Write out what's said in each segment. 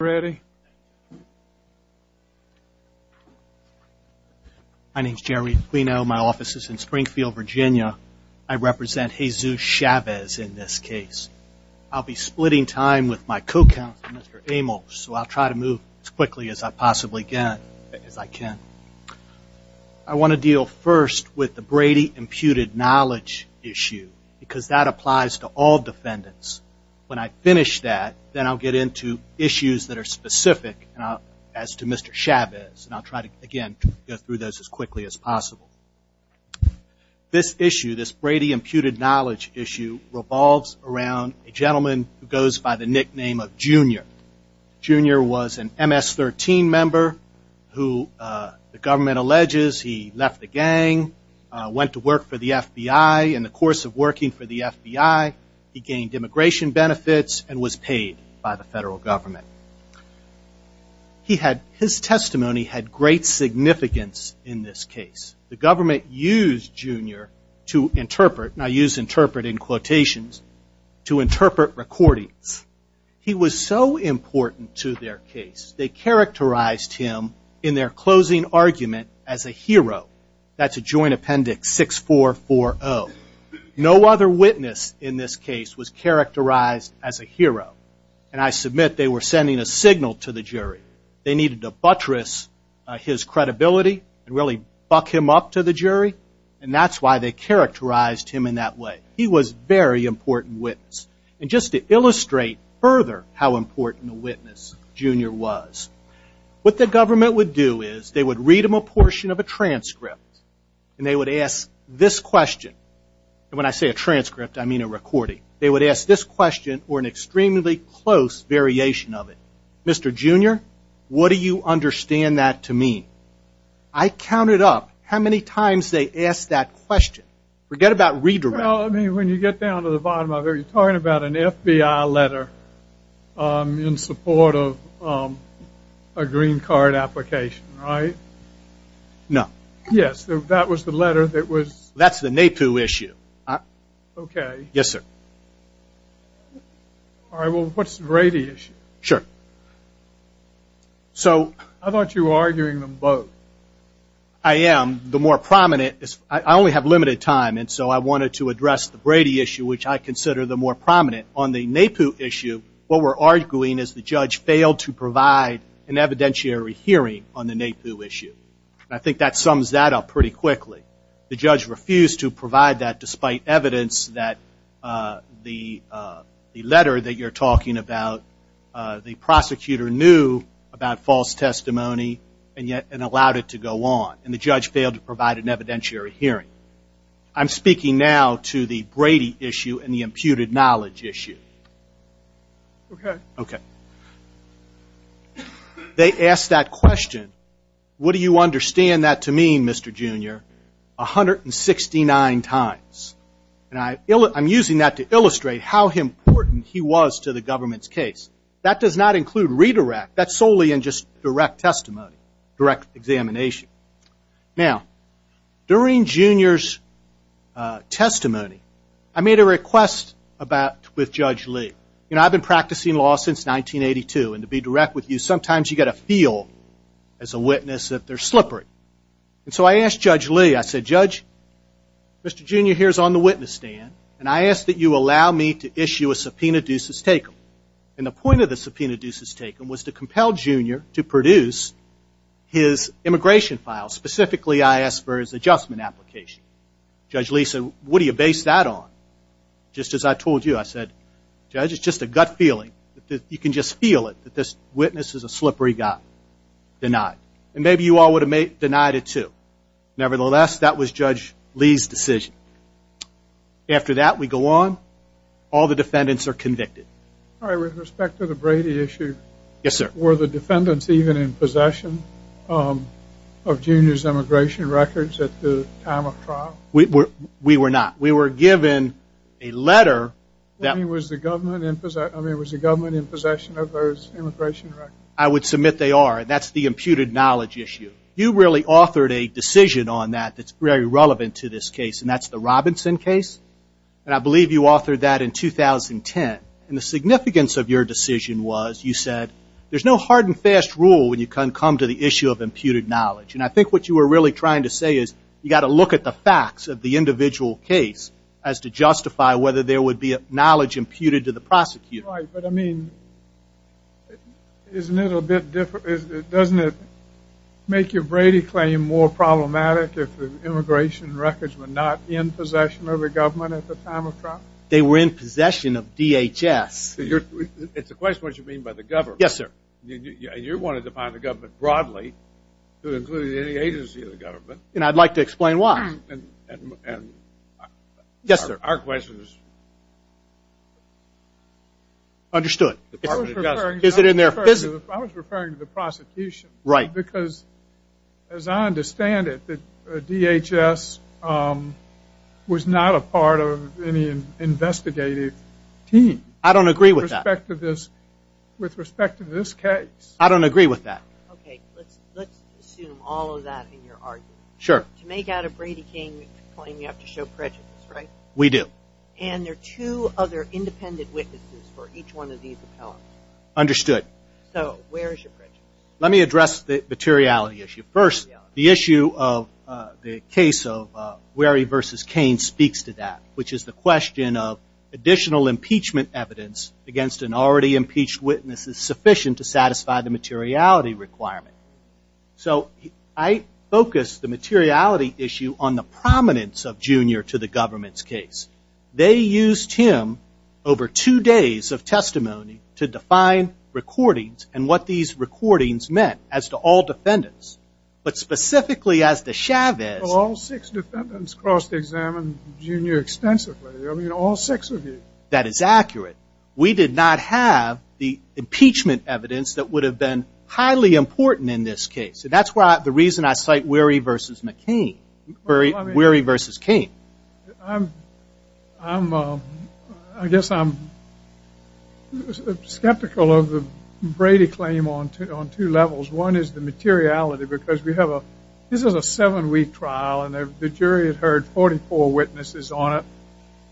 Brady. My name is Jerry. We know my office is in Springfield, Virginia. I represent Jesus Chavez in this case. I'll be splitting time with my co-counsel, Mr. Amos, so I'll try to move as quickly as I possibly can. I want to deal first with the Brady imputed knowledge issue because that applies to all defendants. When I finish that, then I'll get into issues that are specific as to Mr. Chavez. I'll try to go through those as quickly as possible. This issue, this Brady imputed knowledge issue revolves around a gentleman who goes by the nickname of Junior. Junior was an MS-13 member who the government alleges he left the gang, went to work for the FBI. In the course of working for the FBI, he gained immigration benefits and was paid by the federal government. His testimony had great significance in this case. The government used Junior to interpret, and I use interpret in quotations, to interpret recordings. He was so important to their case. They characterized him in their closing argument as a hero. That's a joint appendix, 6440. No other witness in this case was characterized as a hero, and I submit they were sending a signal to the jury. They needed to buttress his credibility and really buck him up to the jury, and that's why they characterized him in that way. He was a very important witness. And just to illustrate further how important a witness Junior was, what the government would do is they would read him a portion of a transcript, and they would ask this question. And when I say a transcript, I mean a recording. They would ask this question or an extremely close variation of it. Mr. Junior, what do you understand that to mean? I counted up how many times they asked that question. Forget about redirecting. When you get down to the bottom of it, you're talking about an FBI letter in support of a green card application, right? No. Yes, that was the letter that was... That's the NAPU issue. Okay. Yes, sir. All right, well, what's the Brady issue? Sure. So... I thought you were arguing them both. I am. The more prominent... I only have limited time, and so I wanted to address the Brady issue, which I consider the more prominent. On the NAPU issue, what we're arguing is the judge failed to provide an evidentiary hearing on the NAPU issue. I think that sums that up pretty quickly. The judge refused to provide that despite evidence that the letter that you're talking about, the prosecutor knew about false testimony and yet allowed it to go on. And the judge failed to provide an evidentiary hearing. I'm speaking now to the Brady issue and the imputed knowledge issue. Okay. Okay. They asked that question, what do you understand that to mean, Mr. Junior, 169 times. And I'm using that to illustrate how important he was to the government's case. That does not include redirect. That's solely in just direct testimony, direct examination. Now, during Mr. Junior's testimony, I made a request with Judge Lee. You know, I've been practicing law since 1982, and to be direct with you, sometimes you've got to feel as a witness that they're slippery. And so I asked Judge Lee, I said, Judge, Mr. Junior here is on the witness stand, and I ask that you allow me to issue a subpoena dues as taken. And the point of the subpoena dues as taken was to compel Junior to produce his immigration file. Specifically, I asked for his adjustment application. Judge Lee said, what do you base that on? Just as I told you, I said, Judge, it's just a gut feeling. You can just feel it that this witness is a slippery guy. Denied. And maybe you all would have denied it too. Nevertheless, that was Judge Lee's decision. After that, we go on. All the defendants are convicted. All right. With respect to the Brady issue. Yes, sir. Were the defendants even in possession of Junior's immigration records at the time of trial? We were not. We were given a letter. Was the government in possession of those immigration records? I would submit they are, and that's the imputed knowledge issue. You really authored a decision on that that's very relevant to this case, and that's the Robinson case. And I believe you authored that in 2010. And the significance of your decision was, you said, there's no hard and fast rule when you come to the issue of imputed knowledge. And I think what you were really trying to say is, you got to look at the facts of the individual case as to justify whether there would be knowledge imputed to the prosecutor. Right. But I mean, isn't it a little bit different? Doesn't it make your Brady claim more problematic if the immigration records were not in possession of the government at the time of trial? They were in possession of DHS. It's a question of what you mean by the government. Yes, sir. And you wanted to find the government broadly to include any agency of the government. And I'd like to explain why. Yes, sir. Our question is... Understood. Is it in their business? I was referring to the prosecution. Right. Because as I understand it, DHS was not a part of any investigative team. I don't agree with that. With respect to this case. I don't agree with that. Okay. Let's assume all of that in your argument. Sure. To make out a Brady Cain claim, you have to show prejudice, right? We do. And there are two other independent witnesses for each one of these appellants. Understood. So, where is your prejudice? Let me address the materiality issue. First, the issue of the case of Wherry v. Cain speaks to that, which is the question of additional impeachment evidence against an already impeached witness is sufficient to satisfy the materiality requirement. So, I focus the materiality issue on the prominence of Junior to the government's case. They used him over two days of testimony to define recordings and what these recordings meant as to all defendants. But specifically as to Chavez. Well, all six defendants crossed examined Junior extensively. I mean, all six of you. That is accurate. We did not have the impeachment evidence that would have been highly important in this case. And that's the reason I cite Wherry v. McCain. Wherry v. Cain. I guess I'm skeptical of the Brady claim on two levels. One is the materiality because we have a, this is a seven week trial and the jury had heard 44 witnesses on it.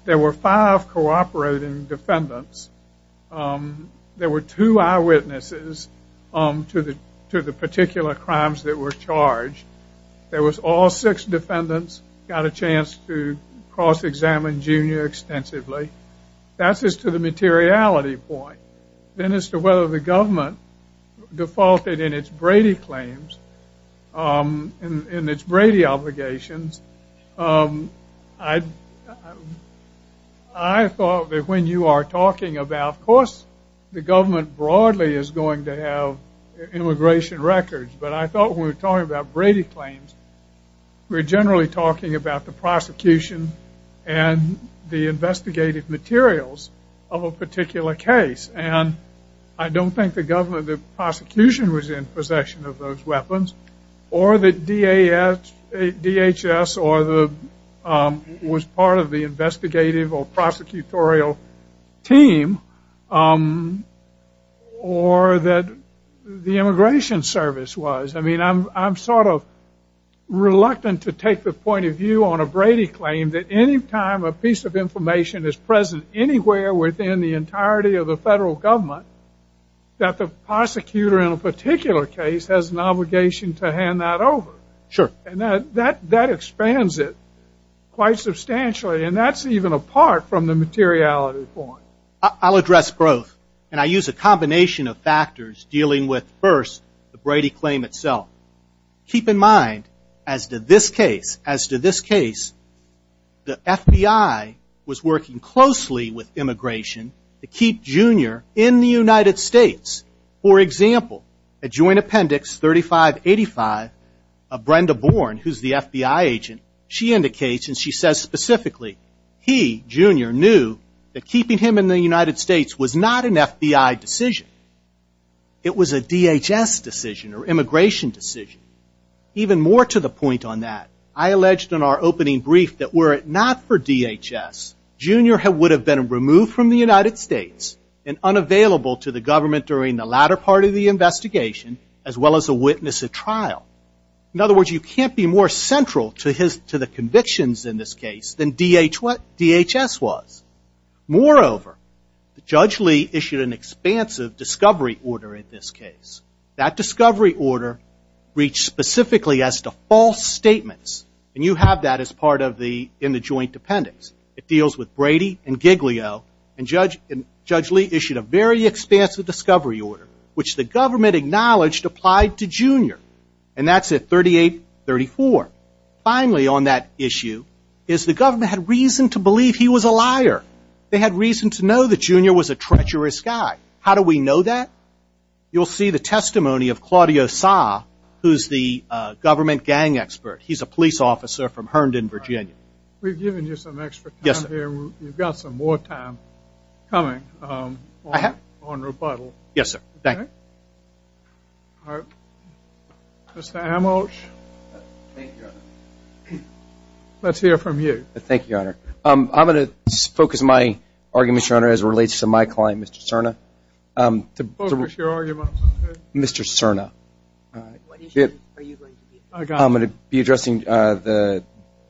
There were five cooperating defendants. There were two eyewitnesses to the particular crimes that were charged. There was all six defendants got a chance to cross examine Junior extensively. That's as to the materiality point. Then as to whether the government defaulted in its Brady obligations. I thought that when you are talking about, of course, the government broadly is going to have immigration records. But I thought when we were talking about Brady claims, we're generally talking about the prosecution and the investigative materials of a particular case. And I don't think the government, the prosecution was in possession of those weapons or the DHS or the, was part of the investigative or prosecutorial team or that the immigration service was. I mean, I'm sort of reluctant to take the point of view on a Brady claim that any time a piece of information is present anywhere within the entirety of the federal government, that the prosecutor in a particular case has an obligation to hand that over. Sure. And that, that, that expands it quite substantially. And that's even apart from the materiality point. I'll address both. And I use a combination of factors dealing with first the Brady claim itself. Keep in mind as to this case, as to keep Junior in the United States. For example, a joint appendix 3585 of Brenda Bourne, who's the FBI agent, she indicates and she says specifically, he, Junior, knew that keeping him in the United States was not an FBI decision. It was a DHS decision or immigration decision. Even more to the point on that, I alleged in our opening brief that were it not for United States and unavailable to the government during the latter part of the investigation, as well as a witness at trial. In other words, you can't be more central to his, to the convictions in this case than DHS was. Moreover, Judge Lee issued an expansive discovery order in this case. That discovery order reached specifically as to false statements. And you have that as part of the, in the joint appendix. It deals with Brady and Giglio. And Judge Lee issued a very expansive discovery order, which the government acknowledged applied to Junior. And that's at 3834. Finally on that issue is the government had reason to believe he was a liar. They had reason to know that Junior was a treacherous guy. How do we know that? You'll see the testimony of Claudio Sa, who's the government gang expert. He's a police officer from Herndon, Virginia. We've given you some extra time here. You've got some more time coming on rebuttal. Yes, sir. Thank you. All right. Mr. Amolch. Let's hear from you. Thank you, Your Honor. I'm going to focus my argument, Your Honor, as it relates to my client, Mr. Cerna. Focus your argument. Mr. Cerna. I'm going to be addressing the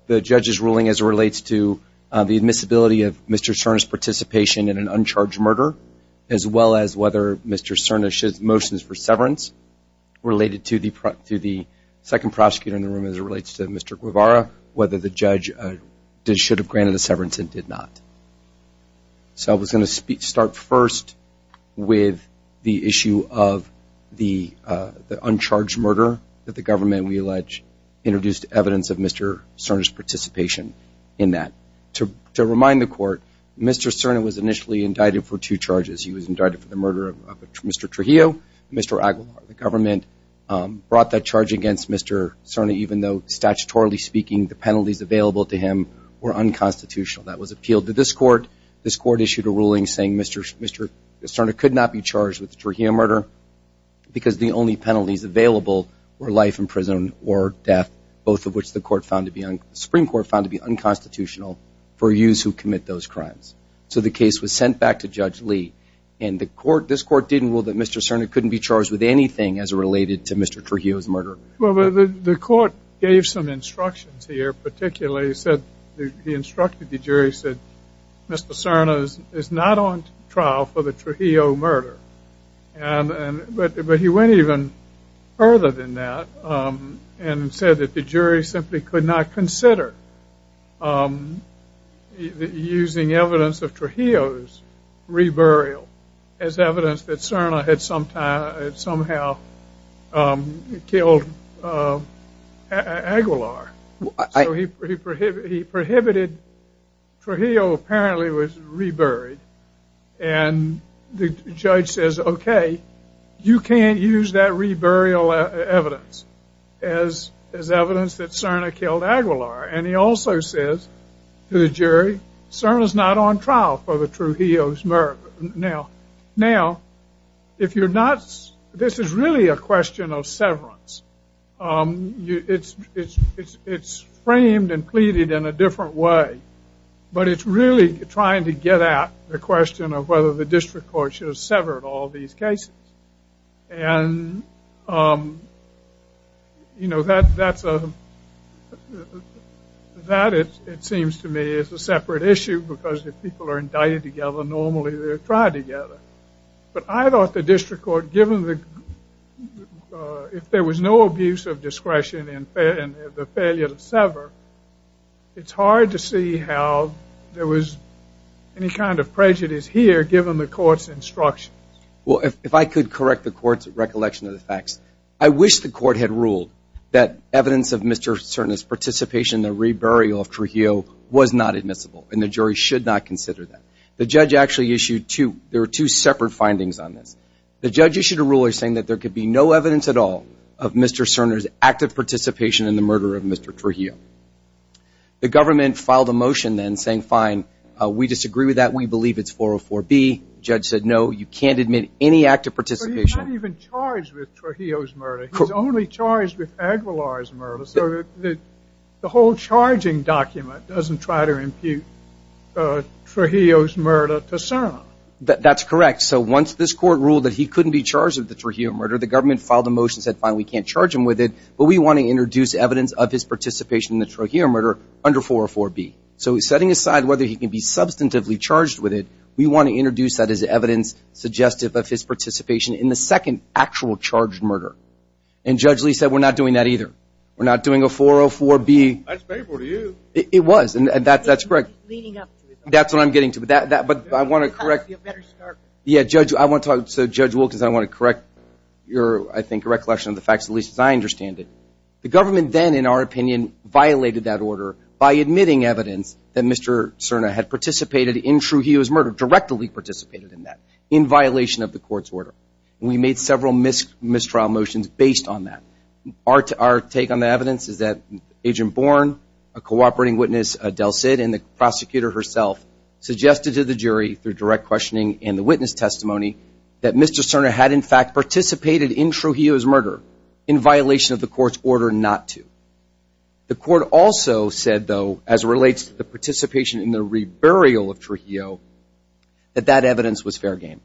judge's ruling as it relates to the admissibility of Mr. Cerna's participation in an uncharged murder, as well as whether Mr. Cerna's motions for severance related to the second prosecutor in the room as it relates to Mr. Guevara, whether the judge should have granted the severance and did not. So I was going to start first with the issue of the uncharged murder that the government, we allege, introduced evidence of Mr. Cerna's participation in that. To remind the court, Mr. Cerna was initially indicted for two charges. He was indicted for the murder of Mr. Trujillo. Mr. Aguilar, the government, brought that charge against Mr. Cerna, even though, statutorily speaking, the penalties available to him were unconstitutional. That was appealed to this court. This court issued a ruling saying Mr. Cerna could not be charged with the Trujillo murder because the only penalties available were life in prison or death, both of which the Supreme Court found to be unconstitutional for youths who commit those crimes. So the case was sent back to Judge Lee. And this court didn't rule that Mr. Cerna couldn't be charged with anything as it related to Mr. Trujillo's murder. Well, the court gave some instructions here, particularly said, he instructed the jury, said Mr. Cerna is not on trial for the Trujillo murder. But he went even further than that and said that the jury simply could not consider using evidence of Trujillo's reburial as evidence that Cerna had somehow killed Aguilar. So he prohibited Trujillo from being charged with that. Trujillo apparently was reburied. And the judge says, okay, you can't use that reburial evidence as evidence that Cerna killed Aguilar. And he also says to the jury, Cerna is not on trial for the Trujillo's murder. Now, if you're not, this is really a question of severance. It's framed and pleaded in a different way. But if you're not on trial for the Trujillo's murder, it's really trying to get at the question of whether the district court should have severed all these cases. And that, it seems to me, is a separate issue because if people are indicted together, normally they're tried together. But I thought the district court, given if there was no abuse of discretion and the failure to sever, it's a different issue. If I could correct the court's recollection of the facts, I wish the court had ruled that evidence of Mr. Cerna's participation in the reburial of Trujillo was not admissible and the jury should not consider that. The judge actually issued two separate findings on this. The judge issued a ruling saying that there could be no evidence at all of Mr. Cerna's active participation in the murder of Mr. Trujillo. The government filed a motion then saying, fine, we disagree with that. We believe it's 404B. The judge said, no, you can't admit any active participation. But he's not even charged with Trujillo's murder. He's only charged with Aguilar's murder. So the whole charging document doesn't try to impute Trujillo's murder to Cerna. That's correct. So once this court ruled that he couldn't be charged with the Trujillo murder, the government filed a motion and said, fine, we can't charge him with it, but we want to introduce evidence of his participation in the Trujillo murder under 404B. So setting aside whether he can be substantively charged with it, we want to introduce that as evidence suggestive of his participation in the second actual charged murder. And Judge Lee said, we're not doing that either. We're not doing a 404B. That's painful to you. It was. And that's correct. He's leading up to it. That's what I'm getting to. But I want to correct you. Yeah, Judge, I want to talk to Judge Wilkins. I want to correct your, I think, recollection of the facts, at least as I understand it. The government then, in our opinion, violated that order by admitting evidence that Mr. Cerna had participated in Trujillo's murder, directly participated in that, in violation of the court's order. We made several mistrial motions based on that. Our take on the evidence is that Agent Born, a cooperating witness, Adele Sid, and the prosecutor herself suggested to the jury through direct questioning and the witness testimony that Mr. Cerna had, in fact, participated in Trujillo's murder in violation of the court's order not to. The court also said, though, as it relates to the participation in the reburial of Trujillo, that that evidence was fair game,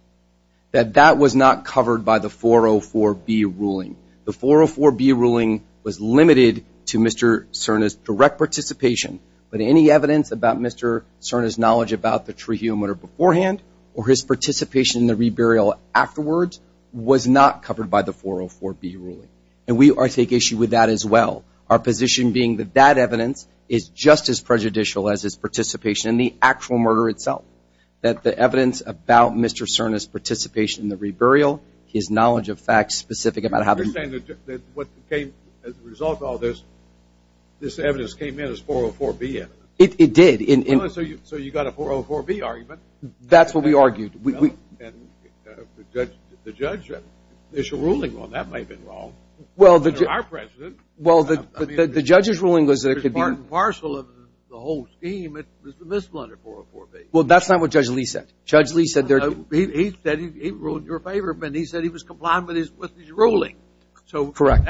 that that was not covered by the 404B ruling. The 404B ruling was limited to Mr. Cerna's direct participation, but any evidence about Mr. Cerna's knowledge about the Trujillo murder beforehand or his participation in the reburial afterwards was not covered by the 404B ruling. And we take issue with that as well, our position being that that evidence is just as prejudicial as his participation in the actual murder itself, that the evidence about Mr. Cerna's participation in the reburial, his knowledge of facts specific about how the... You understand that what came as a result of all this, this evidence came in as 404B evidence? It did. So you got a 404B argument. That's what we argued. Well, and the judge's ruling on that might have been wrong. Well, the judge's ruling was that it could be... Part and parcel of the whole scheme is the misplaced 404B. Well, that's not what Judge Lee said. Judge Lee said... He said he ruled in your favor, but he said he was complying with his ruling. So that's... Correct.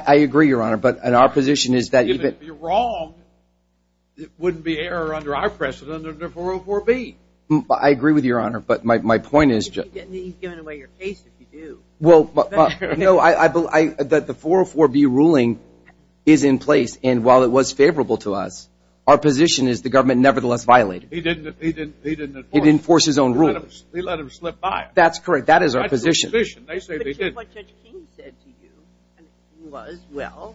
I agree, Your Honor. And our position is that... Even if you're wrong, it wouldn't be error under our precedent under 404B. I agree with you, Your Honor, but my point is... He's giving away your case, if you do. Well, no, I believe that the 404B ruling is in place, and while it was favorable to us, our position is the government nevertheless violated. He didn't enforce his own rule. He let him slip by. That's correct. That is our position. That's the position. They say they didn't. That's exactly what Judge King said to you, and if he was, well,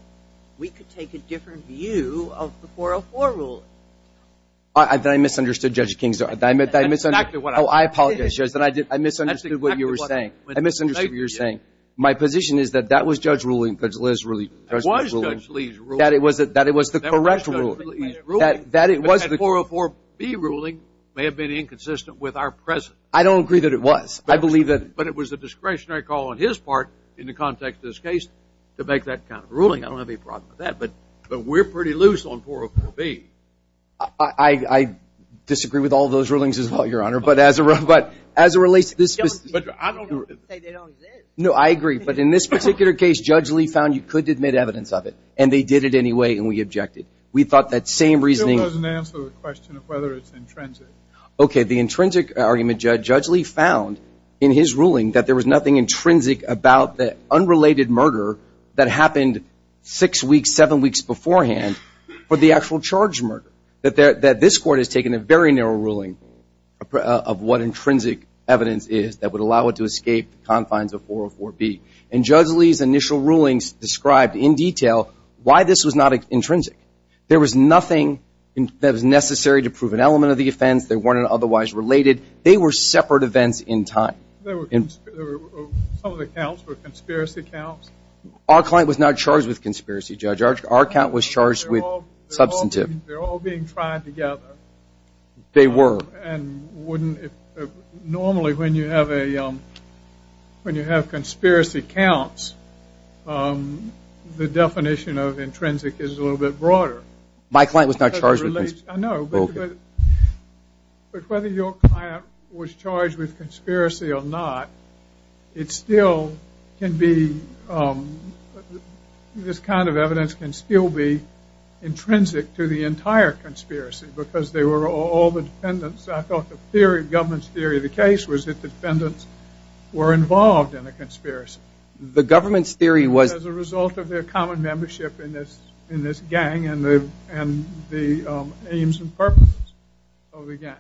we could take a different view of the 404 ruling. I misunderstood Judge King's argument. I misunderstood... That's exactly what I did. Oh, I apologize, Judge, that I misunderstood what you were saying. I misunderstood what you were saying. My position is that that was Judge Lee's ruling. That it was the correct ruling. That it was the... But that 404B ruling may have been inconsistent with our precedent. I don't agree that it was. I believe that... in the context of this case, to make that kind of ruling, I don't have any problem with that, but we're pretty loose on 404B. I disagree with all those rulings as well, Your Honor, but as it relates to this... But I don't... They don't say they don't exist. No, I agree, but in this particular case, Judge Lee found you couldn't admit evidence of it, and they did it anyway, and we objected. We thought that same reasoning... It doesn't answer the question of whether it's intrinsic. Okay, the intrinsic argument, Judge Lee found in his ruling that there was nothing intrinsic about the unrelated murder that happened six weeks, seven weeks beforehand for the actual charge murder. That this Court has taken a very narrow ruling of what intrinsic evidence is that would allow it to escape the confines of 404B. And Judge Lee's initial rulings described in detail why this was not intrinsic. There was nothing that was necessary to prove an element of the offense. They weren't otherwise related. They were separate events in time. There were... Some of the counts were conspiracy counts. Our client was not charged with conspiracy, Judge. Our count was charged with substantive. They're all being tried together. They were. And wouldn't... Normally, when you have conspiracy counts, the definition of intrinsic is a little bit broader. My client was not charged with... Because it relates... I know, but... conspiracy or not, it still can be... This kind of evidence can still be intrinsic to the entire conspiracy because they were all the defendants. I thought the theory, the government's theory of the case was that defendants were involved in a conspiracy. The government's theory was... As a result of their common membership in this gang and the aims and purposes of the gang.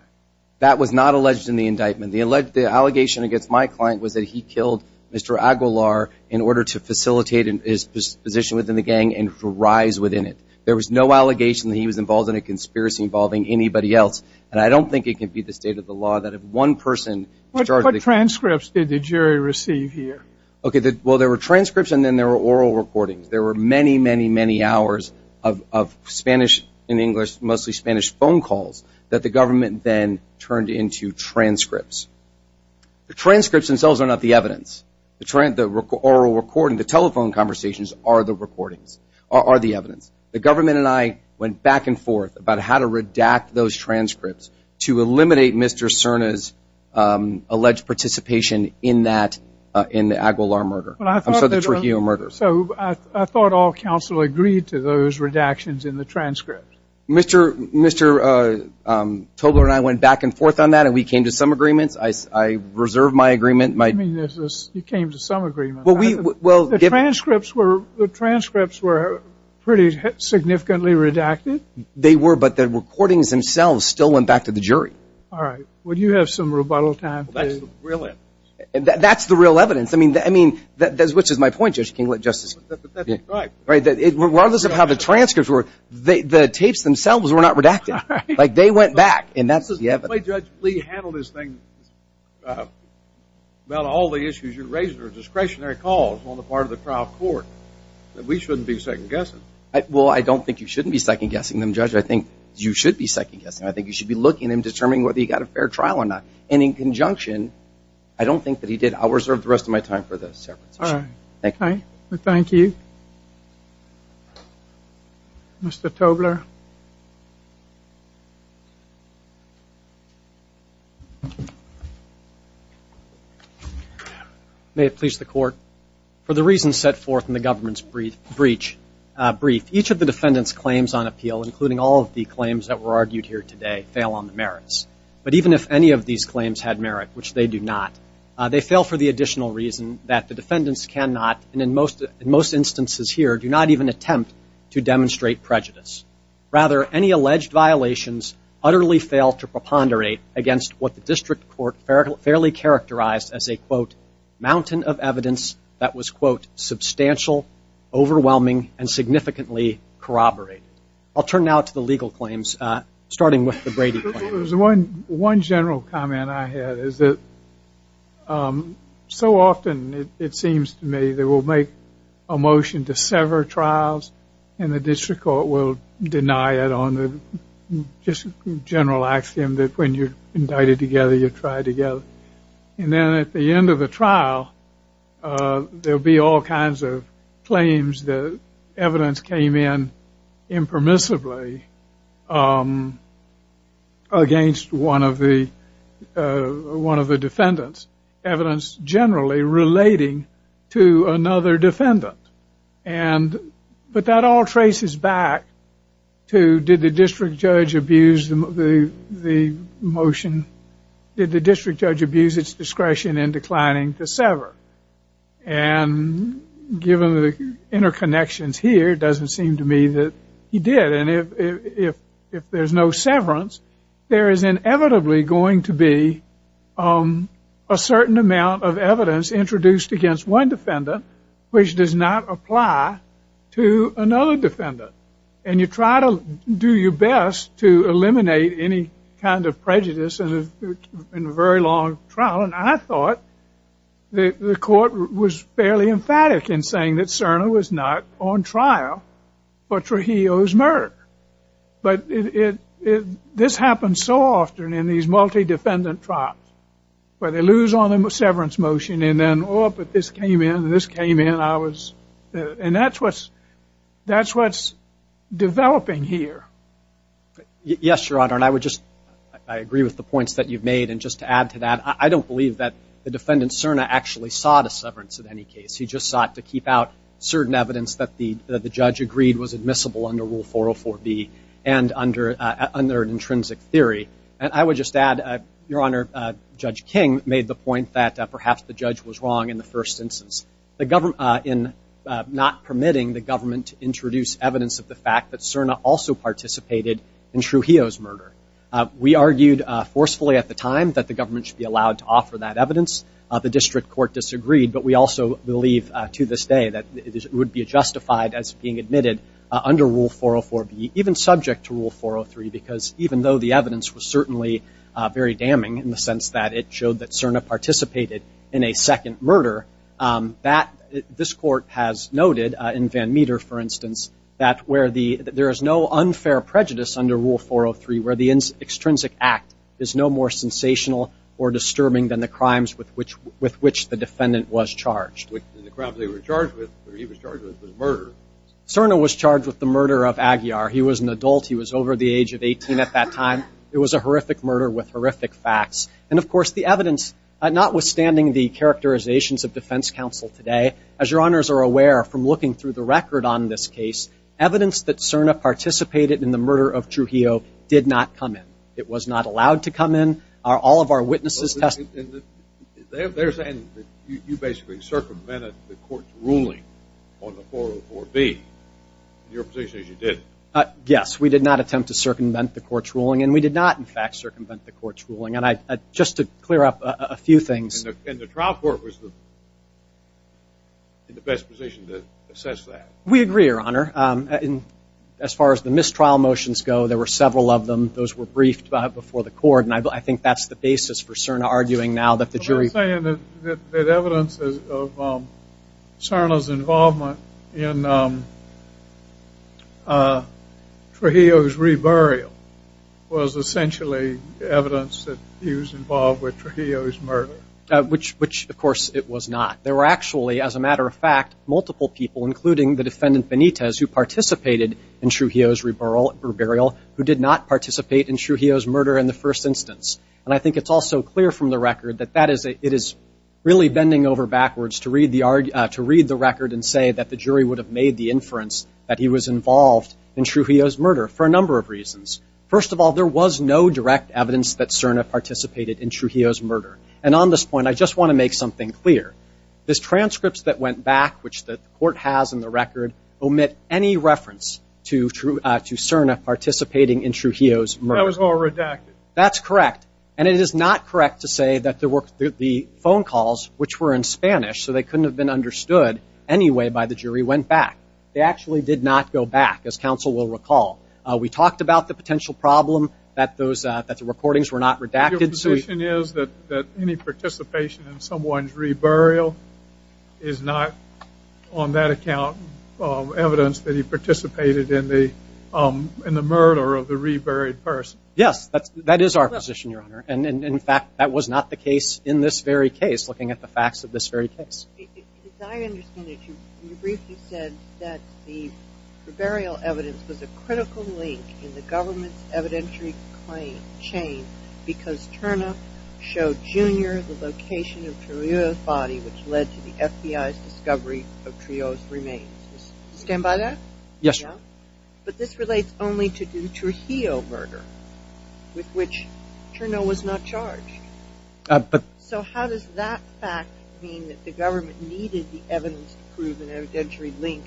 That was not alleged in the indictment. The alleged... The allegation against my client was that he killed Mr. Aguilar in order to facilitate his position within the gang and to rise within it. There was no allegation that he was involved in a conspiracy involving anybody else. And I don't think it can be the state of the law that if one person is charged with... What transcripts did the jury receive here? Okay. Well, there were transcripts and then there were oral recordings. There were many, many, many hours of Spanish... Then turned into transcripts. The transcripts themselves are not the evidence. The oral recording, the telephone conversations are the recordings, are the evidence. The government and I went back and forth about how to redact those transcripts to eliminate Mr. Serna's alleged participation in that, in the Aguilar murder. I'm sorry, the Trujillo murder. So I thought all counsel agreed to those redactions in the transcripts. Mr. Togler and I went back and forth on that and we came to some agreements. I reserved my agreement. You came to some agreement. The transcripts were pretty significantly redacted? They were, but the recordings themselves still went back to the jury. All right. Well, do you have some rebuttal time to... That's the real evidence. I mean, which is my point, Justice Kinglet. Right. It's regardless of how the transcripts were, the tapes themselves were not redacted. They went back and that's the evidence. The way Judge Lee handled this thing, about all the issues, you raised a discretionary cause on the part of the trial court that we shouldn't be second guessing. Well, I don't think you shouldn't be second guessing them, Judge. I think you should be second guessing. I think you should be looking and determining whether you got a fair trial or not. In conjunction, I don't think that he did. I'll reserve the rest of my time for the separate session. Thank you. Thank you. Mr. Tobler. May it please the court. For the reasons set forth in the government's brief, each of the defendant's claims on appeal, including all of the claims that were argued here today, fail on the merits. But even if any of these claims had merit, which they do not, they fail for the additional reason that the defendants cannot, and in most instances here, do not even attempt to demonstrate prejudice. Rather, any alleged violations utterly fail to preponderate against what the district court fairly characterized as a, quote, mountain of evidence that was, quote, substantial, overwhelming, and significantly corroborated. I'll turn now to the legal claims, starting with the Brady claim. There was one general comment I had, is that so often, it seems to me, they will make a motion to sever trials, and the district court will deny it on the just general axiom that when you're indicted together, you're tried together. And then at the end of the trial, there'll be all kinds of claims that evidence came in impermissibly against one of the defendants, evidence generally relating to another defendant. And, but that all traces back to, did the district judge abuse the motion, did the district judge abuse its discretion in declining to sever? And given the interconnections here, it doesn't seem to me that he did. And if there's no severance, there is inevitably going to be a certain amount of evidence introduced against one defendant, which does not apply to another defendant. And you try to do your best to eliminate any kind of prejudice in a very long trial. And I thought the court was fairly emphatic in saying that Cerner was not on trial for Trujillo's murder. But this happens so often in these multi-defendant trials, where they lose on the severance motion, and then, oh, but this came in, and this came in, and I was, and that's what's developing here. Yes, Your Honor, and I would just, I agree with the points that you've made. And just to add to that, I don't believe that the defendant Cerner actually sought a severance in any case. He just sought to keep out certain evidence that the judge agreed was admissible under Rule 404B and under an intrinsic theory. And I would just add, Your Honor, Judge King made the point that perhaps the judge was wrong in the first instance, in not permitting the government to introduce evidence of the fact that Cerner also participated in Trujillo's murder. We argued forcefully at the time that the government should be allowed to offer that evidence. The district court disagreed, but we also believe to this day that it would be justified as being admitted under Rule 404B, even subject to Rule 403, because even though the evidence was certainly very damning in the sense that it showed that Cerner participated in a second murder, that, this court has noted in Van Meter, for instance, that where the, there is no unfair prejudice under Rule 403, where the extrinsic act is no more sensational or disturbing than the crimes with which, with which the defendant was charged. The crime they were charged with, or he was charged with, was murder. Cerner was charged with the murder of Aguiar. He was an adult. He was over the age of 18 at that time. It was a horrific murder with horrific facts. And of course, the evidence, notwithstanding the characterizations of defense counsel today, Cerner participated in the murder of Trujillo, did not come in. It was not allowed to come in. All of our witnesses tested. And they're saying that you basically circumvented the court's ruling on the 404B. Your position is you didn't. Yes. We did not attempt to circumvent the court's ruling. And we did not, in fact, circumvent the court's ruling. And I, just to clear up a few things. And the trial court was in the best position to assess that. We agree, Your Honor. And as far as the mistrial motions go, there were several of them. Those were briefed before the court. And I think that's the basis for Cerner arguing now that the jury. But I'm saying that evidence of Cerner's involvement in Trujillo's reburial was essentially evidence that he was involved with Trujillo's murder. Which, of course, it was not. There were actually, as a matter of fact, multiple people, including the defendant Benitez, who participated in Trujillo's reburial, who did not participate in Trujillo's murder in the first instance. And I think it's also clear from the record that it is really bending over backwards to read the record and say that the jury would have made the inference that he was involved in Trujillo's murder for a number of reasons. First of all, there was no direct evidence that Cerner participated in Trujillo's murder. And on this point, I just want to make something clear. The transcripts that went back, which the court has in the record, omit any reference to Cerner participating in Trujillo's murder. That was all redacted. That's correct. And it is not correct to say that the phone calls, which were in Spanish, so they couldn't have been understood anyway by the jury, went back. They actually did not go back, as counsel will recall. We talked about the potential problem that the recordings were not redacted. Your position is that any participation in someone's reburial is not, on that account, evidence that he participated in the murder of the reburied person? Yes, that is our position, Your Honor. And in fact, that was not the case in this very case, looking at the facts of this very case. As I understand it, you briefly said that the reburial evidence was a critical link in the government's evidentiary claim, chain, because Cerner showed Junior the location of Trujillo's body, which led to the FBI's discovery of Trujillo's remains. Stand by that? Yes, Your Honor. But this relates only to the Trujillo murder, with which Cerner was not charged. So how does that fact mean that the government needed the evidence to prove an evidentiary link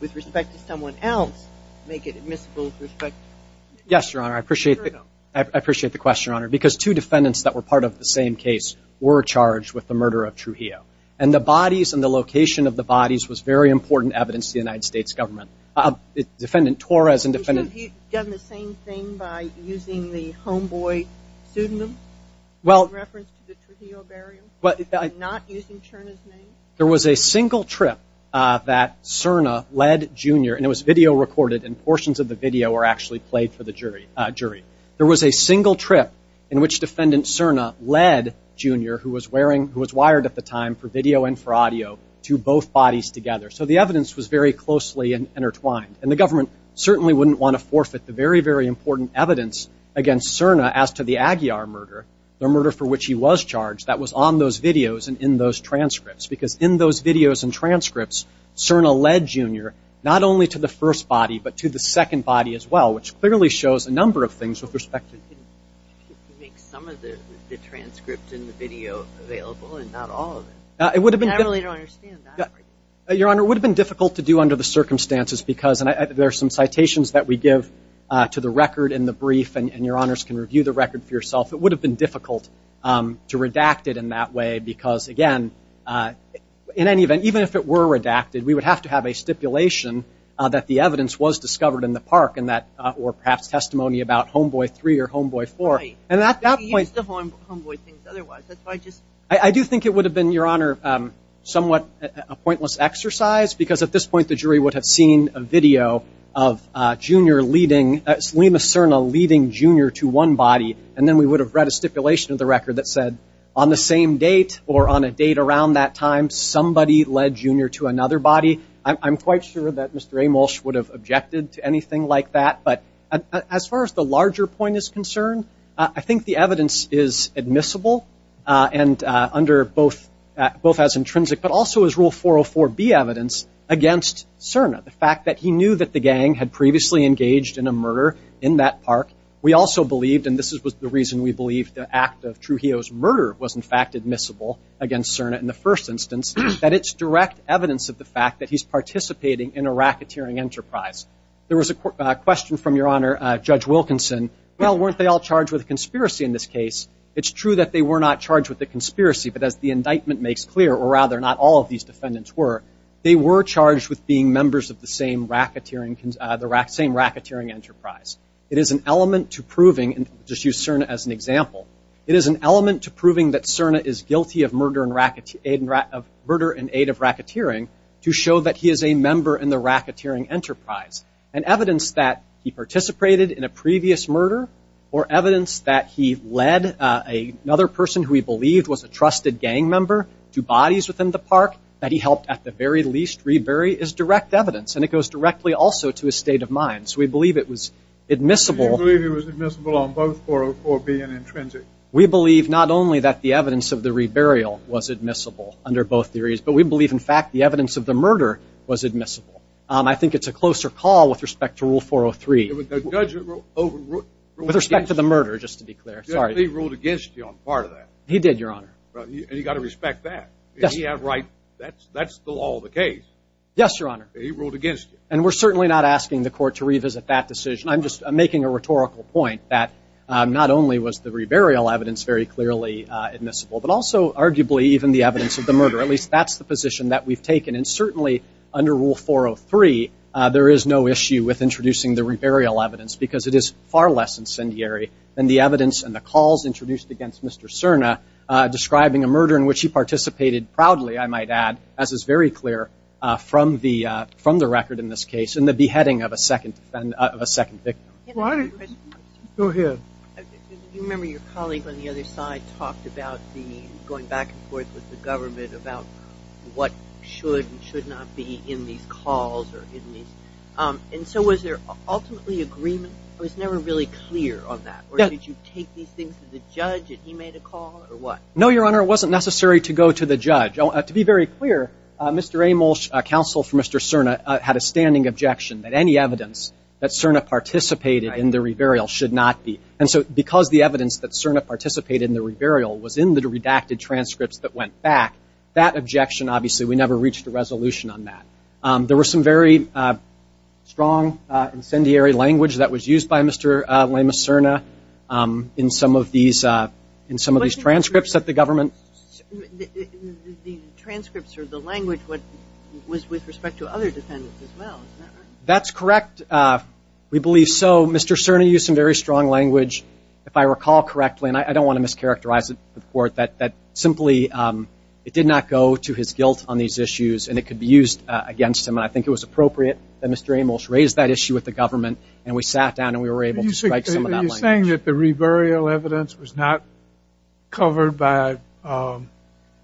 with respect to someone else, make it admissible with respect to Trujillo? Yes, Your Honor. I appreciate the question, Your Honor, because two defendants that were part of the same case were charged with the murder of Trujillo. And the bodies and the location of the bodies was very important evidence to the United States government. Defendant Torres and Defendant- You should have done the same thing by using the homeboy pseudonym in reference to the Trujillo burial, and not using Cerner's name? There was a single trip that Cerner led Junior, and it was video recorded, and portions of the video were actually played for the jury. There was a single trip in which Defendant Cerner led Junior, who was wired at the time for video and for audio, to both bodies together. So the evidence was very closely intertwined. And the government certainly wouldn't want to forfeit the very, very important evidence against Cerner as to the Aguiar murder, the murder for which he was charged, that was on those videos and in those transcripts, because in those videos and transcripts, Cerner led Junior not only to the first body, but to the second body as well, which clearly shows a number of things with respect to- You can make some of the transcripts in the video available, and not all of them. It would have been- I really don't understand that. Your Honor, it would have been difficult to do under the circumstances, because there are some citations that we give to the record in the brief, and Your Honors can review the record for yourself. It would have been difficult to redact it in that way, because, again, in any event, even if it were redacted, we would have to have a stipulation that the evidence was discovered in the park, or perhaps testimony about Homeboy 3 or Homeboy 4. And at that point- You used the Homeboy things otherwise. That's why I just- I do think it would have been, Your Honor, somewhat a pointless exercise, because at this point the jury would have seen a video of Junior leading- We would have read a stipulation of the record that said, on the same date, or on a date around that time, somebody led Junior to another body. I'm quite sure that Mr. Amolsch would have objected to anything like that. But as far as the larger point is concerned, I think the evidence is admissible, and under both- both as intrinsic, but also as Rule 404B evidence against Cerna. The fact that he knew that the gang had previously engaged in a murder in that park. We also believed, and this was the reason we believed the act of Trujillo's murder was, in fact, admissible against Cerna in the first instance, that it's direct evidence of the fact that he's participating in a racketeering enterprise. There was a question from, Your Honor, Judge Wilkinson. Well, weren't they all charged with a conspiracy in this case? It's true that they were not charged with a conspiracy, but as the indictment makes clear, or rather not all of these defendants were, they were charged with being members of the same racketeering- the same racketeering enterprise. It is an element to proving, and just use Cerna as an example, it is an element to proving that Cerna is guilty of murder and aid of racketeering to show that he is a member in the racketeering enterprise, and evidence that he participated in a previous murder, or evidence that he led another person who he believed was a trusted gang member to bodies within the park that he helped at the very least rebury is direct evidence, and it goes directly also to his state of mind. So we believe it was admissible. Do you believe it was admissible on both 404B and Intrinsic? We believe not only that the evidence of the reburial was admissible under both theories, but we believe, in fact, the evidence of the murder was admissible. I think it's a closer call with respect to Rule 403. With respect to the murder, just to be clear. He ruled against you on part of that. He did, Your Honor. And you've got to respect that. He had right- that's the law of the case. Yes, Your Honor. He ruled against you. And we're certainly not asking the court to revisit that decision. I'm just making a rhetorical point that not only was the reburial evidence very clearly admissible, but also arguably even the evidence of the murder. At least that's the position that we've taken. And certainly under Rule 403, there is no issue with introducing the reburial evidence because it is far less incendiary than the evidence and the calls introduced against Mr. Cerna describing a murder in which he participated proudly, I might add, as is very clear from the record in this case, in the beheading of a second victim. Go ahead. Do you remember your colleague on the other side talked about the- going back and forth with the government about what should and should not be in these calls or in these- and so was there ultimately agreement? It was never really clear on that. Or did you take these things to the judge and he made a call or what? No, Your Honor. It wasn't necessary to go to the judge. To be very clear, Mr. Amol's counsel for Mr. Cerna had a standing objection that any evidence that Cerna participated in the reburial should not be. And so because the evidence that Cerna participated in the reburial was in the redacted transcripts that went back, that objection obviously we never reached a resolution on that. There were some very strong incendiary language that was used by Mr. Lemus Cerna in some of these transcripts that the government- The transcripts or the language was with respect to other defendants as well. That's correct. We believe so. Mr. Cerna used some very strong language, if I recall correctly, and I don't want to mischaracterize it before it, that simply it did not go to his guilt on these issues and it could be used against him. And I think it was appropriate that Mr. Amol raised that issue with the government and we sat down and we were able to strike some of that language. You're saying that the reburial evidence was not covered by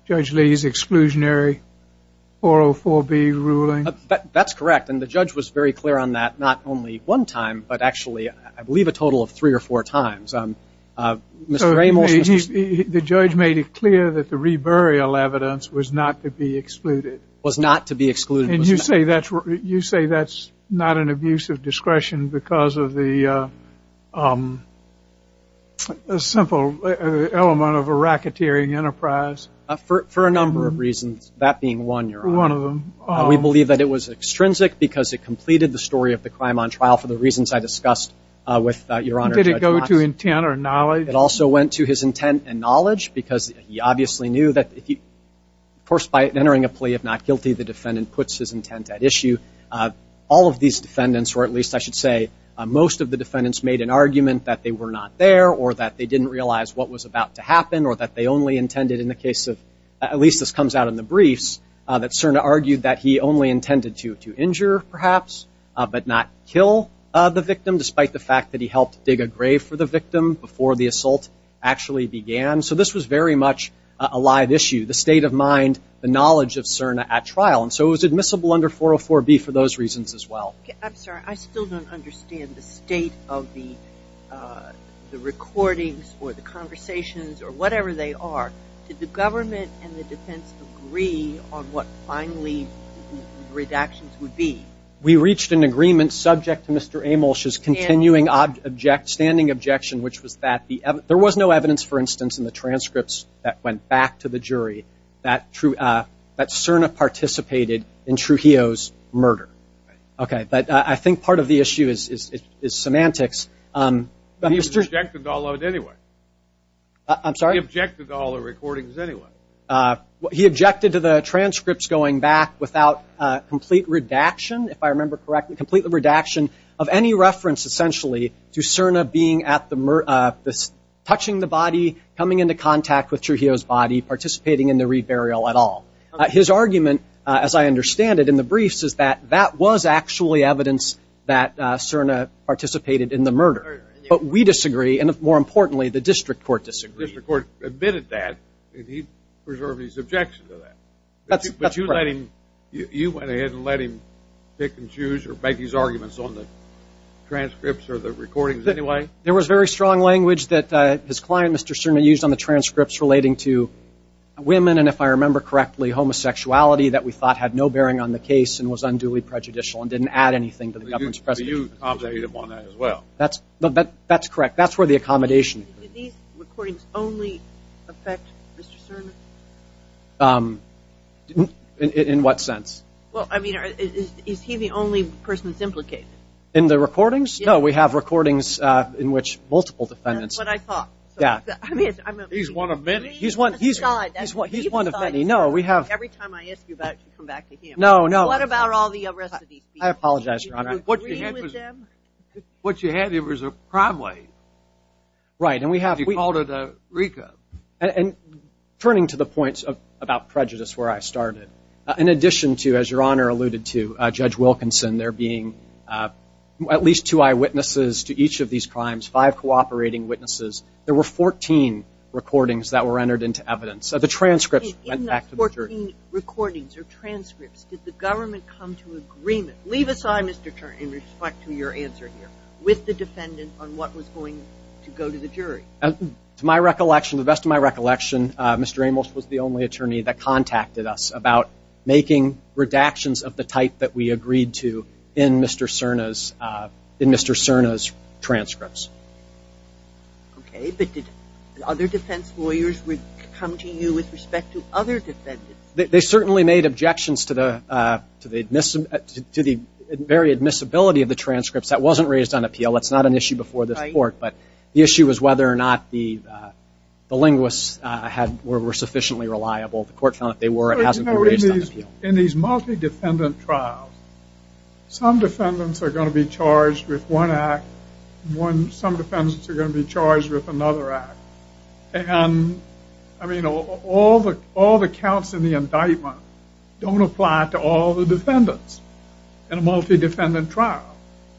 Judge Lee's exclusionary 404B ruling? That's correct. And the judge was very clear on that, not only one time, but actually I believe a total of three or four times. Mr. Amol- The judge made it clear that the reburial evidence was not to be excluded. Was not to be excluded. And you say that's not an abuse of discretion because of the simple element of a racketeering enterprise? For a number of reasons, that being one, Your Honor. One of them. We believe that it was extrinsic because it completed the story of the crime on trial for the reasons I discussed with Your Honor- Did it go to intent or knowledge? It also went to his intent and knowledge because he obviously knew that if he- All of these defendants, or at least I should say most of the defendants, made an argument that they were not there or that they didn't realize what was about to happen or that they only intended in the case of- at least this comes out in the briefs, that Cerna argued that he only intended to injure, perhaps, but not kill the victim, despite the fact that he helped dig a grave for the victim before the assault actually began. So this was very much a live issue. The state of mind, the knowledge of Cerna at trial. And so it was admissible under 404B for those reasons as well. I'm sorry, I still don't understand the state of the recordings or the conversations or whatever they are. Did the government and the defense agree on what finally the redactions would be? We reached an agreement subject to Mr. Amolsch's continuing standing objection, which was that there was no evidence, for instance, in the transcripts that went back to the jury that Cerna participated in Trujillo's murder. Okay, but I think part of the issue is semantics. But he objected to all of it anyway. I'm sorry? He objected to all the recordings anyway. He objected to the transcripts going back without complete redaction, if I remember correctly, complete redaction of any reference, essentially, to Cerna being at the- touching the body, coming into contact with Trujillo's body, participating in the reburial at all. His argument, as I understand it in the briefs, is that that was actually evidence that Cerna participated in the murder. But we disagree, and more importantly, the district court disagrees. The district court admitted that, and he preserved his objection to that. But you let him- you went ahead and let him pick and choose or make his arguments on the transcripts or the recordings anyway? There was very strong language that his client, Mr. Cerna, used on the transcripts relating to women and, if I remember correctly, homosexuality that we thought had no bearing on the case and was unduly prejudicial and didn't add anything to the government's presentation. But you objected upon that as well. That's- that's correct. That's where the accommodation- Did these recordings only affect Mr. Cerna? In what sense? Well, I mean, is he the only person that's implicated? In the recordings? No, we have recordings in which multiple defendants- That's what I thought. Yeah. I mean, he's one of many. He's one- he's- he's one of many. No, we have- Every time I ask you about it, you come back to him. No, no. What about all the arrest of these people? I apologize, Your Honor. Do you agree with them? What you have here is a crime wave. Right, and we have- You called it a recap. And turning to the points about prejudice where I started, in addition to, as Your Honor alluded to, Judge Wilkinson, there being at least two eyewitnesses to each of these crimes, five cooperating witnesses, there were 14 recordings that were entered into evidence. So the transcripts went back to the jury. In those 14 recordings or transcripts, did the government come to agreement- leave aside, Mr. Turner, in respect to your answer here- with the defendant on what was going to go to the jury? To my recollection, to the best of my recollection, Mr. Amos was the only attorney that contacted us about making redactions of the type that we agreed to in Mr. Cerna's transcripts. Okay, but did other defense lawyers come to you with respect to other defendants? They certainly made objections to the very admissibility of the transcripts. That wasn't raised on appeal. That's not an issue before this court, but the issue was whether or not the linguists were sufficiently reliable. The court found if they were, it hasn't been raised on appeal. In these multi-defendant trials, some defendants are going to be charged with one act, and some defendants are going to be charged with another act. And, I mean, all the counts in the indictment don't apply to all the defendants in a multi-defendant trial.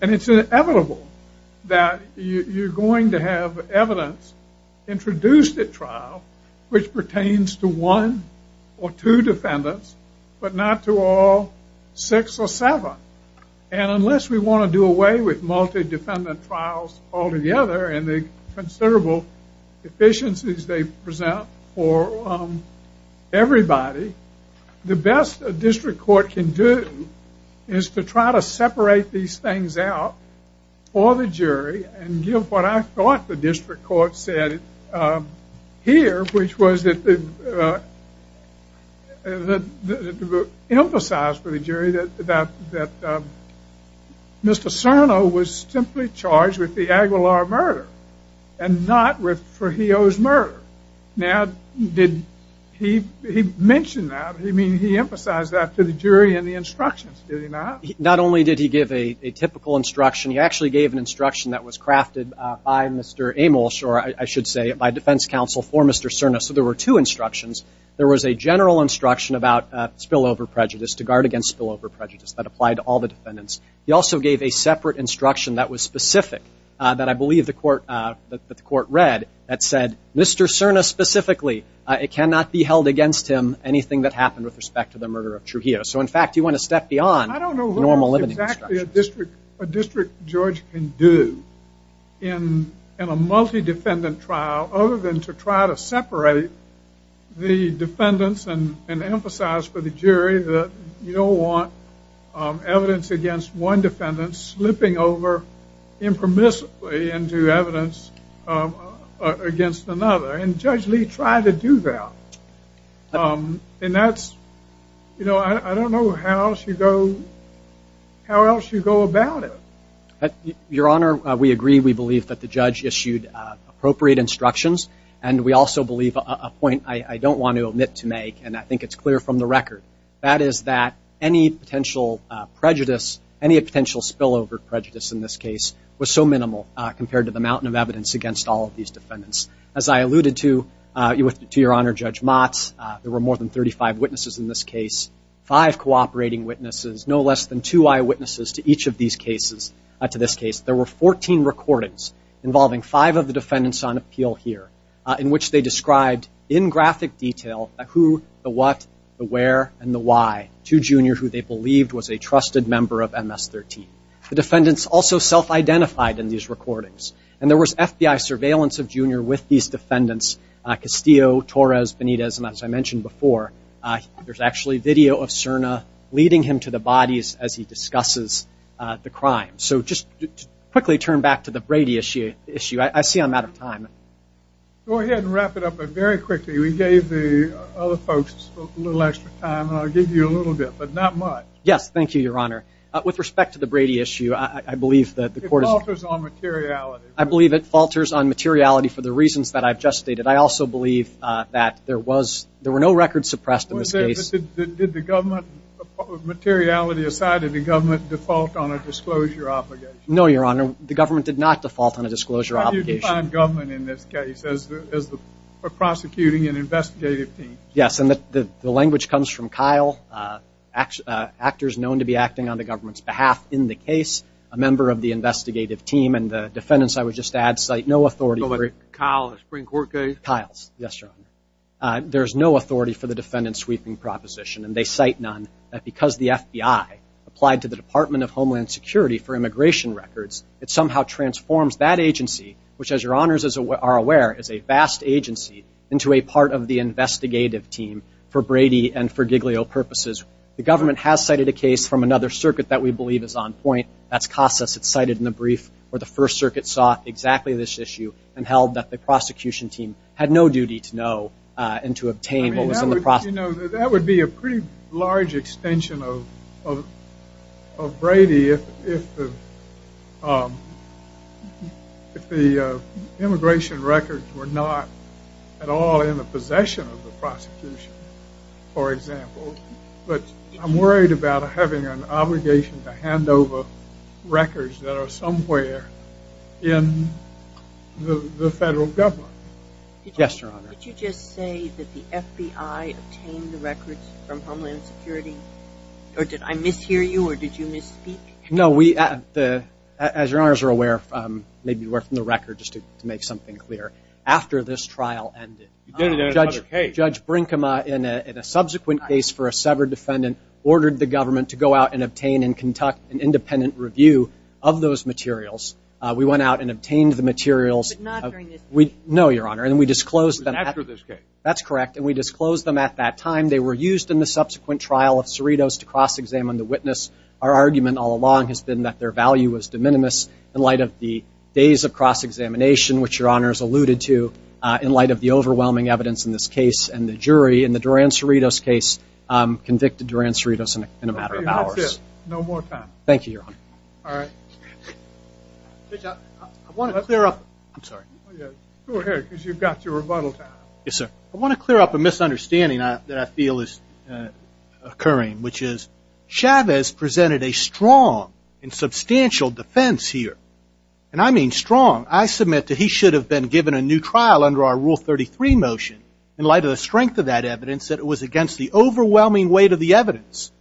And it's inevitable that you're going to have evidence introduced at trial which pertains to one or two defendants, but not to all six or seven. And unless we want to do away with multi-defendant trials altogether and the considerable efficiencies they present for everybody, the best a district court can do is to try to separate these things out for the jury and give what I thought the district court said here, which was that it emphasized for the jury that Mr. Cerno was simply charged with the Aguilar murder and not with Fajio's murder. Now, did he mention that? I mean, he emphasized that to the jury in the instructions, did he not? Not only did he give a typical instruction, he actually gave an instruction that was crafted by Mr. Amos, or I should say, by defense counsel for Mr. Cerno. So there were two instructions. There was a general instruction about spillover prejudice, to guard against spillover prejudice, that applied to all the defendants. He also gave a separate instruction that was specific, that I believe the court read, that said, Mr. Cerno specifically, it cannot be held against him anything that happened with respect to the murder of Trujillo. So in fact, you went a step beyond normal limiting instructions. I don't know what exactly a district judge can do in a multi-defendant trial other than to try to separate the defendants and emphasize for the jury that you don't want evidence against one defendant slipping over impermissibly into evidence against another. And Judge Lee tried to do that. And that's, you know, I don't know how else you go about it. Your Honor, we agree. We believe that the judge issued appropriate instructions. And we also believe a point I don't want to omit to make, and I think it's clear from the record. That is that any potential prejudice, any potential spillover prejudice in this case, was so minimal compared to the mountain of evidence against all of these defendants. As I alluded to, to Your Honor, Judge Motz, there were more than 35 witnesses in this case. Five cooperating witnesses, no less than two eyewitnesses to each of these cases, to this case. There were 14 recordings involving five of the defendants on appeal here, in which they described in graphic detail who, the what, the where, and the why to Junior, who they believed was a trusted member of MS-13. The defendants also self-identified in these recordings. And there was FBI surveillance of Junior with these defendants, Castillo, Torres, Benitez. And as I mentioned before, there's actually video of Cerna leading him to the bodies as he discusses the crime. So just quickly turn back to the Brady issue. I see I'm out of time. Go ahead and wrap it up, but very quickly, we gave the other folks a little extra time. And I'll give you a little bit, but not much. Yes, thank you, Your Honor. With respect to the Brady issue, I believe that the court is- It falters on materiality. I believe it falters on materiality for the reasons that I've just stated. I also believe that there were no records suppressed in this case. Did the government, materiality aside, did the government default on a disclosure obligation? No, Your Honor. The government did not default on a disclosure obligation. How do you define government in this case as the prosecuting and investigative team? Yes, and the language comes from Kyle, actors known to be acting on the government's behalf in the case, a member of the investigative team. And the defendants, I would just add, cite no authority for- Kyle, the Supreme Court case? Kyle's, yes, Your Honor. There's no authority for the defendant sweeping proposition, and they cite none, that because the FBI applied to the Department of Homeland Security for immigration records, it somehow transforms that agency, which, as Your Honors are aware, is a vast agency, into a part of the investigative team for Brady and for Giglio purposes. The government has cited a case from another circuit that we believe is on point. That's Casas. It's cited in the brief where the First Circuit saw exactly this issue and held that the prosecution team had no duty to know and to obtain what was in the process. You know, that would be a pretty large extension of Brady if the immigration records were not at all in the possession of the prosecution, for example. But I'm worried about having an obligation to hand over records that are somewhere in the federal government. Yes, Your Honor. Did you just say that the FBI obtained the records from Homeland Security? Or did I mishear you, or did you misspeak? No, we, as Your Honors are aware, maybe we're from the record, just to make something clear. After this trial ended, Judge Brinkema, in a subsequent case for a severed defendant, ordered the government to go out and obtain and conduct an independent review of those materials. We went out and obtained the materials. But not during this case. No, Your Honor. And we disclosed them after this case. That's correct. And we disclosed them at that time. They were used in the subsequent trial of Cerritos to cross-examine the witness. Our argument all along has been that their value was de minimis in light of the days of cross-examination, which Your Honors alluded to, in light of the overwhelming evidence in this case. And the jury in the Duran-Cerritos case convicted Duran-Cerritos in a matter of hours. No more time. Thank you, Your Honor. All right. Judge, I want to clear up. I'm sorry. Oh, yeah. Go ahead, because you've got your rebuttal time. Yes, sir. I want to clear up a misunderstanding that I feel is occurring, which is Chavez presented a strong and substantial defense here. And I mean strong. I submit that he should have been given a new trial under our Rule 33 motion, in light of the strength of that evidence, that it was against the overwhelming weight of the evidence.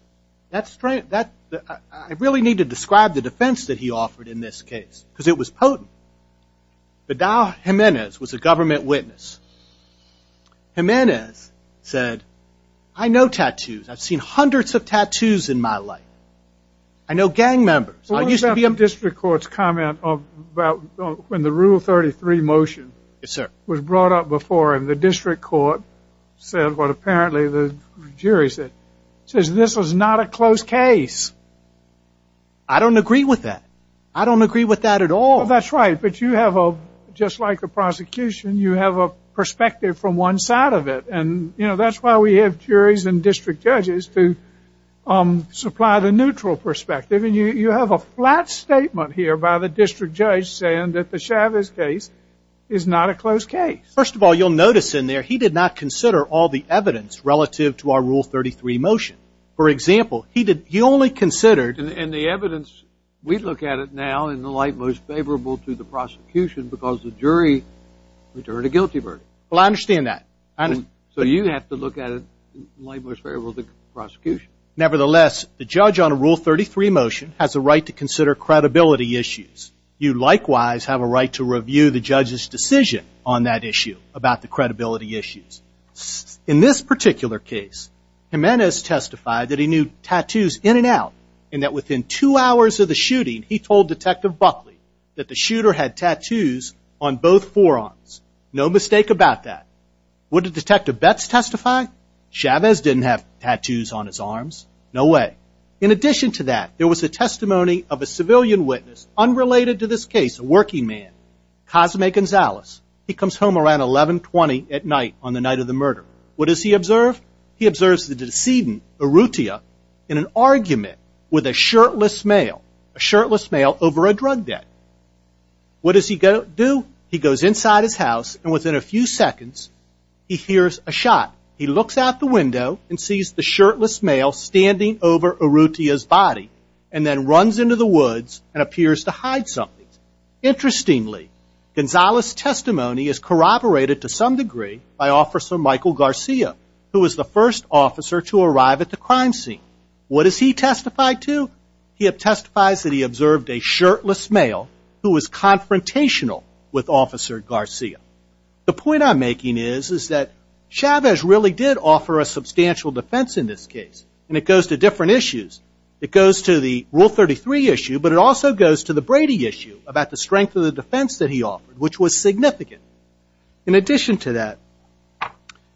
That strength, I really need to describe the defense that he offered in this case, because it was potent. Vidal Jimenez was a government witness. Jimenez said, I know tattoos. I've seen hundreds of tattoos in my life. I know gang members. I used to be a member. What about the district court's comment about when the Rule 33 motion was brought up before, and the district court said what apparently the jury said? Says this was not a close case. I don't agree with that. I don't agree with that at all. That's right. But you have a, just like a prosecution, you have a perspective from one side of it. And that's why we have juries and district judges to supply the neutral perspective. And you have a flat statement here by the district judge saying that the Chavez case is not a close case. First of all, you'll notice in there, he did not consider all the evidence relative to our Rule 33 motion. For example, he only considered. And the evidence, we look at it now in the light most favorable to the prosecution because the jury returned a guilty verdict. Well, I understand that. So you have to look at it in the light most favorable to the prosecution. Nevertheless, the judge on a Rule 33 motion has a right to consider credibility issues. You likewise have a right to review the judge's decision on that issue about the credibility issues. In this particular case, Jimenez testified that he knew tattoos in and out. And that within two hours of the shooting, he told Detective Buckley that the shooter had tattoos on both forearms. No mistake about that. Would Detective Betz testify? Chavez didn't have tattoos on his arms. No way. In addition to that, there was a testimony of a civilian witness unrelated to this case, a working man, Cosme Gonzalez. He comes home around 1120 at night on the night of the murder. What does he observe? He observes the decedent, Urrutia, in an argument with a shirtless male, a shirtless male over a drug debt. What does he do? He goes inside his house. And within a few seconds, he hears a shot. He looks out the window and sees the shirtless male standing over Urrutia's body and then runs into the woods and appears to hide something. Interestingly, Gonzalez's testimony is corroborated to some degree by Officer Michael Garcia, who was the first officer to arrive at the crime scene. What does he testify to? He testifies that he observed a shirtless male who was confrontational with Officer Garcia. The point I'm making is that Chavez really did offer a substantial defense in this case. And it goes to different issues. It goes to the Rule 33 issue, but it also goes to the Brady issue about the strength of the defense that he offered, which was significant. In addition to that,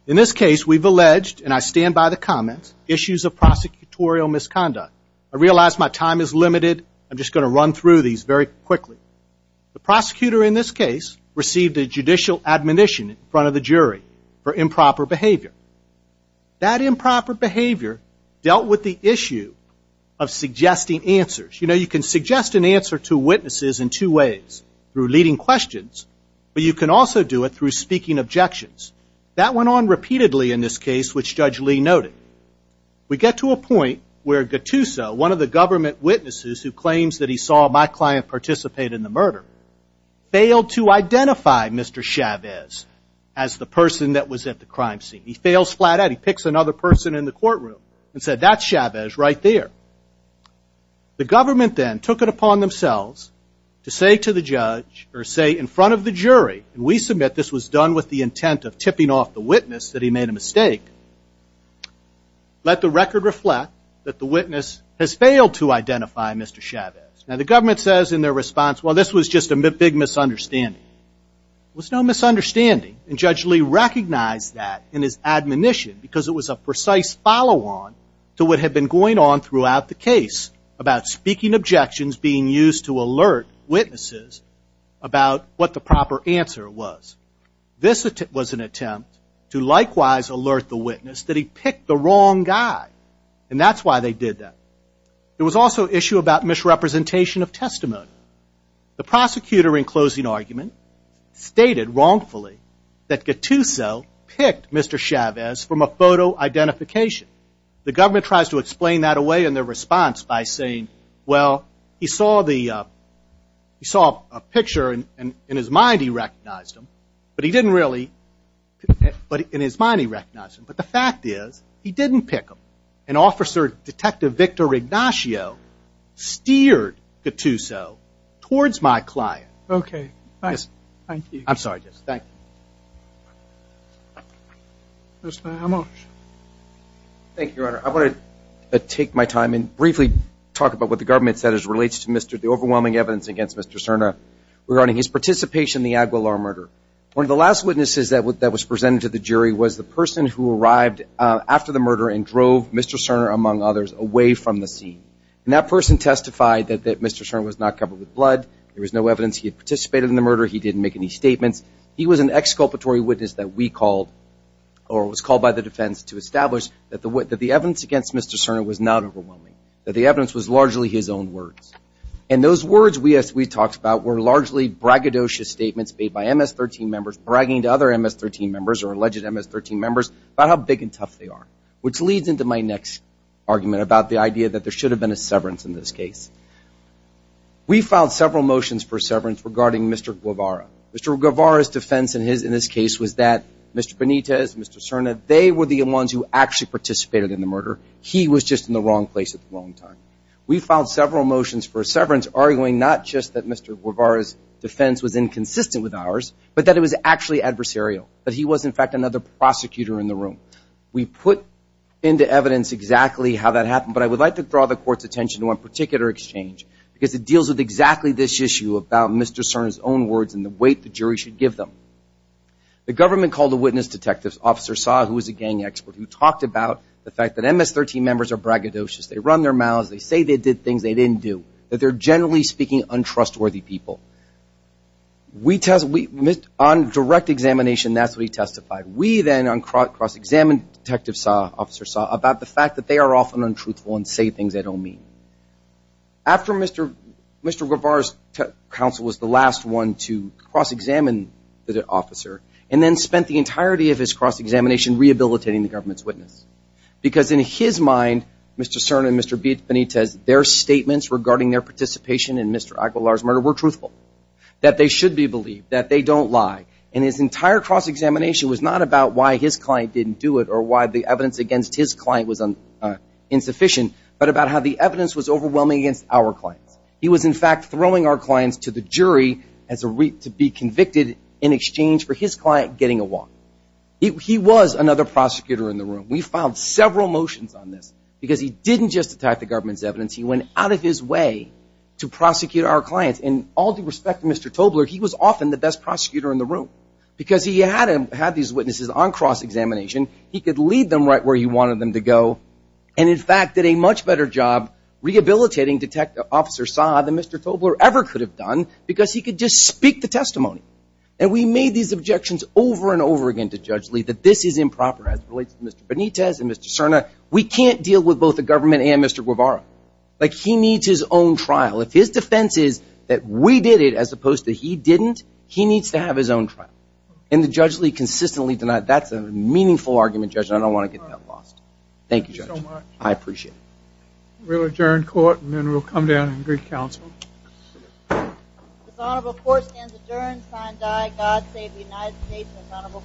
in this case, we've alleged, and I stand by the comments, issues of prosecutorial misconduct. I realize my time is limited. I'm just going to run through these very quickly. The prosecutor in this case received a judicial admonition in front of the jury for improper behavior. That improper behavior dealt with the issue of suggesting answers. You can suggest an answer to witnesses in two ways, through leading questions, but you can also do it through speaking objections. That went on repeatedly in this case, which Judge Lee noted. We get to a point where Gattuso, one of the government witnesses who claims that he saw my client participate in the murder, failed to identify Mr. Chavez as the person that was at the crime scene. He fails flat out. He picks another person in the courtroom and said, that's Chavez right there. The government then took it upon themselves to say to the judge, or say in front of the jury, and we submit this was done with the intent of tipping off the witness that he made a mistake, let the record reflect that the witness has failed to identify Mr. Chavez. Now, the government says in their response, well, this was just a big misunderstanding. It was no misunderstanding, and Judge Lee recognized that in his admonition because it was a precise follow-on to what had been going on throughout the case about speaking objections being used to alert witnesses about what the proper answer was. This was an attempt to likewise alert the witness that he picked the wrong guy, and that's why they did that. There was also an issue about misrepresentation of testimony. The prosecutor in closing argument stated wrongfully that Gattuso picked Mr. Chavez from a photo identification. The government tries to explain that away in their response by saying, well, he saw a picture, and in his mind he recognized him, but he didn't really, but in his mind he recognized him. But the fact is, he didn't pick him. And Officer Detective Victor Ignacio steered Gattuso towards my client. OK. Thanks. Thank you. I'm sorry. Thank you. Mr. Amos. Thank you, Your Honor. I want to take my time and briefly talk about what the government said as it relates to the overwhelming evidence against Mr. Cerna regarding his participation in the Aguilar murder. One of the last witnesses that was presented to the jury was the person who arrived after the murder and drove Mr. Cerna, among others, away from the scene. And that person testified that Mr. Cerna was not covered with blood. There was no evidence he had participated in the murder. He didn't make any statements. He was an exculpatory witness that we called, or was called by the defense to establish, that the evidence against Mr. Cerna was not overwhelming, that the evidence was largely his own words. And those words we talked about were largely braggadocious statements made by MS-13 members bragging to other MS-13 members or alleged MS-13 members about how big and tough they are, which leads into my next argument about the idea that there should have been a severance in this case. We filed several motions for severance regarding Mr. Guevara. Mr. Guevara's defense in this case was that Mr. Benitez, Mr. Cerna, they were the ones who actually participated in the murder. He was just in the wrong place at the wrong time. We filed several motions for severance arguing not just that Mr. Guevara's defense was inconsistent with ours, but that it was actually adversarial, that he was, in fact, another prosecutor in the room. We put into evidence exactly how that happened. But I would like to draw the court's attention to one particular exchange, because it deals with exactly this issue about Mr. Cerna's own words and the weight the jury should give them. The government called the witness detectives, Officer Saw, who was a gang expert, who talked about the fact that MS-13 members are braggadocious. They run their mouths. They say they did things they didn't do, that they're generally speaking untrustworthy people. On direct examination, that's what he testified. We then cross-examined Detective Saw, Officer Saw, about the fact that they are often untruthful and say things they don't mean. After Mr. Guevara's counsel was the last one to cross-examine the officer, and then spent the entirety of his cross-examination rehabilitating the government's witness, because in his mind, Mr. Cerna and Mr. Benitez, their statements regarding their participation in Mr. Aguilar's murder were truthful, that they should be believed, that they don't lie. And his entire cross-examination was not about why his client didn't do it or why the evidence against his client was insufficient, but about how the evidence was overwhelming against our clients. He was, in fact, throwing our clients to the jury to be convicted in exchange for his client getting a walk. He was another prosecutor in the room. We filed several motions on this, because he didn't just attack the government's evidence. He went out of his way to prosecute our clients. In all due respect to Mr. Tobler, he was often the best prosecutor in the room, because he had these witnesses on cross-examination. He could lead them right where he wanted them to go. And, in fact, did a much better job rehabilitating Detective Officer Saa than Mr. Tobler ever could have done, because he could just speak the testimony. And we made these objections over and over again to Judge Lee that this is improper as it relates to Mr. Benitez and Mr. Cerna. We can't deal with both the government and Mr. Guevara. Like, he needs his own trial. If his defense is that we did it as opposed to he didn't, he needs to have his own trial. And the Judge Lee consistently denied. That's a meaningful argument, Judge, and I don't want to get that lost. Thank you, Judge. I appreciate it. We'll adjourn court, and then we'll come down and greet counsel. This honorable court stands adjourned. Signed, I, God Save the United States. This honorable court.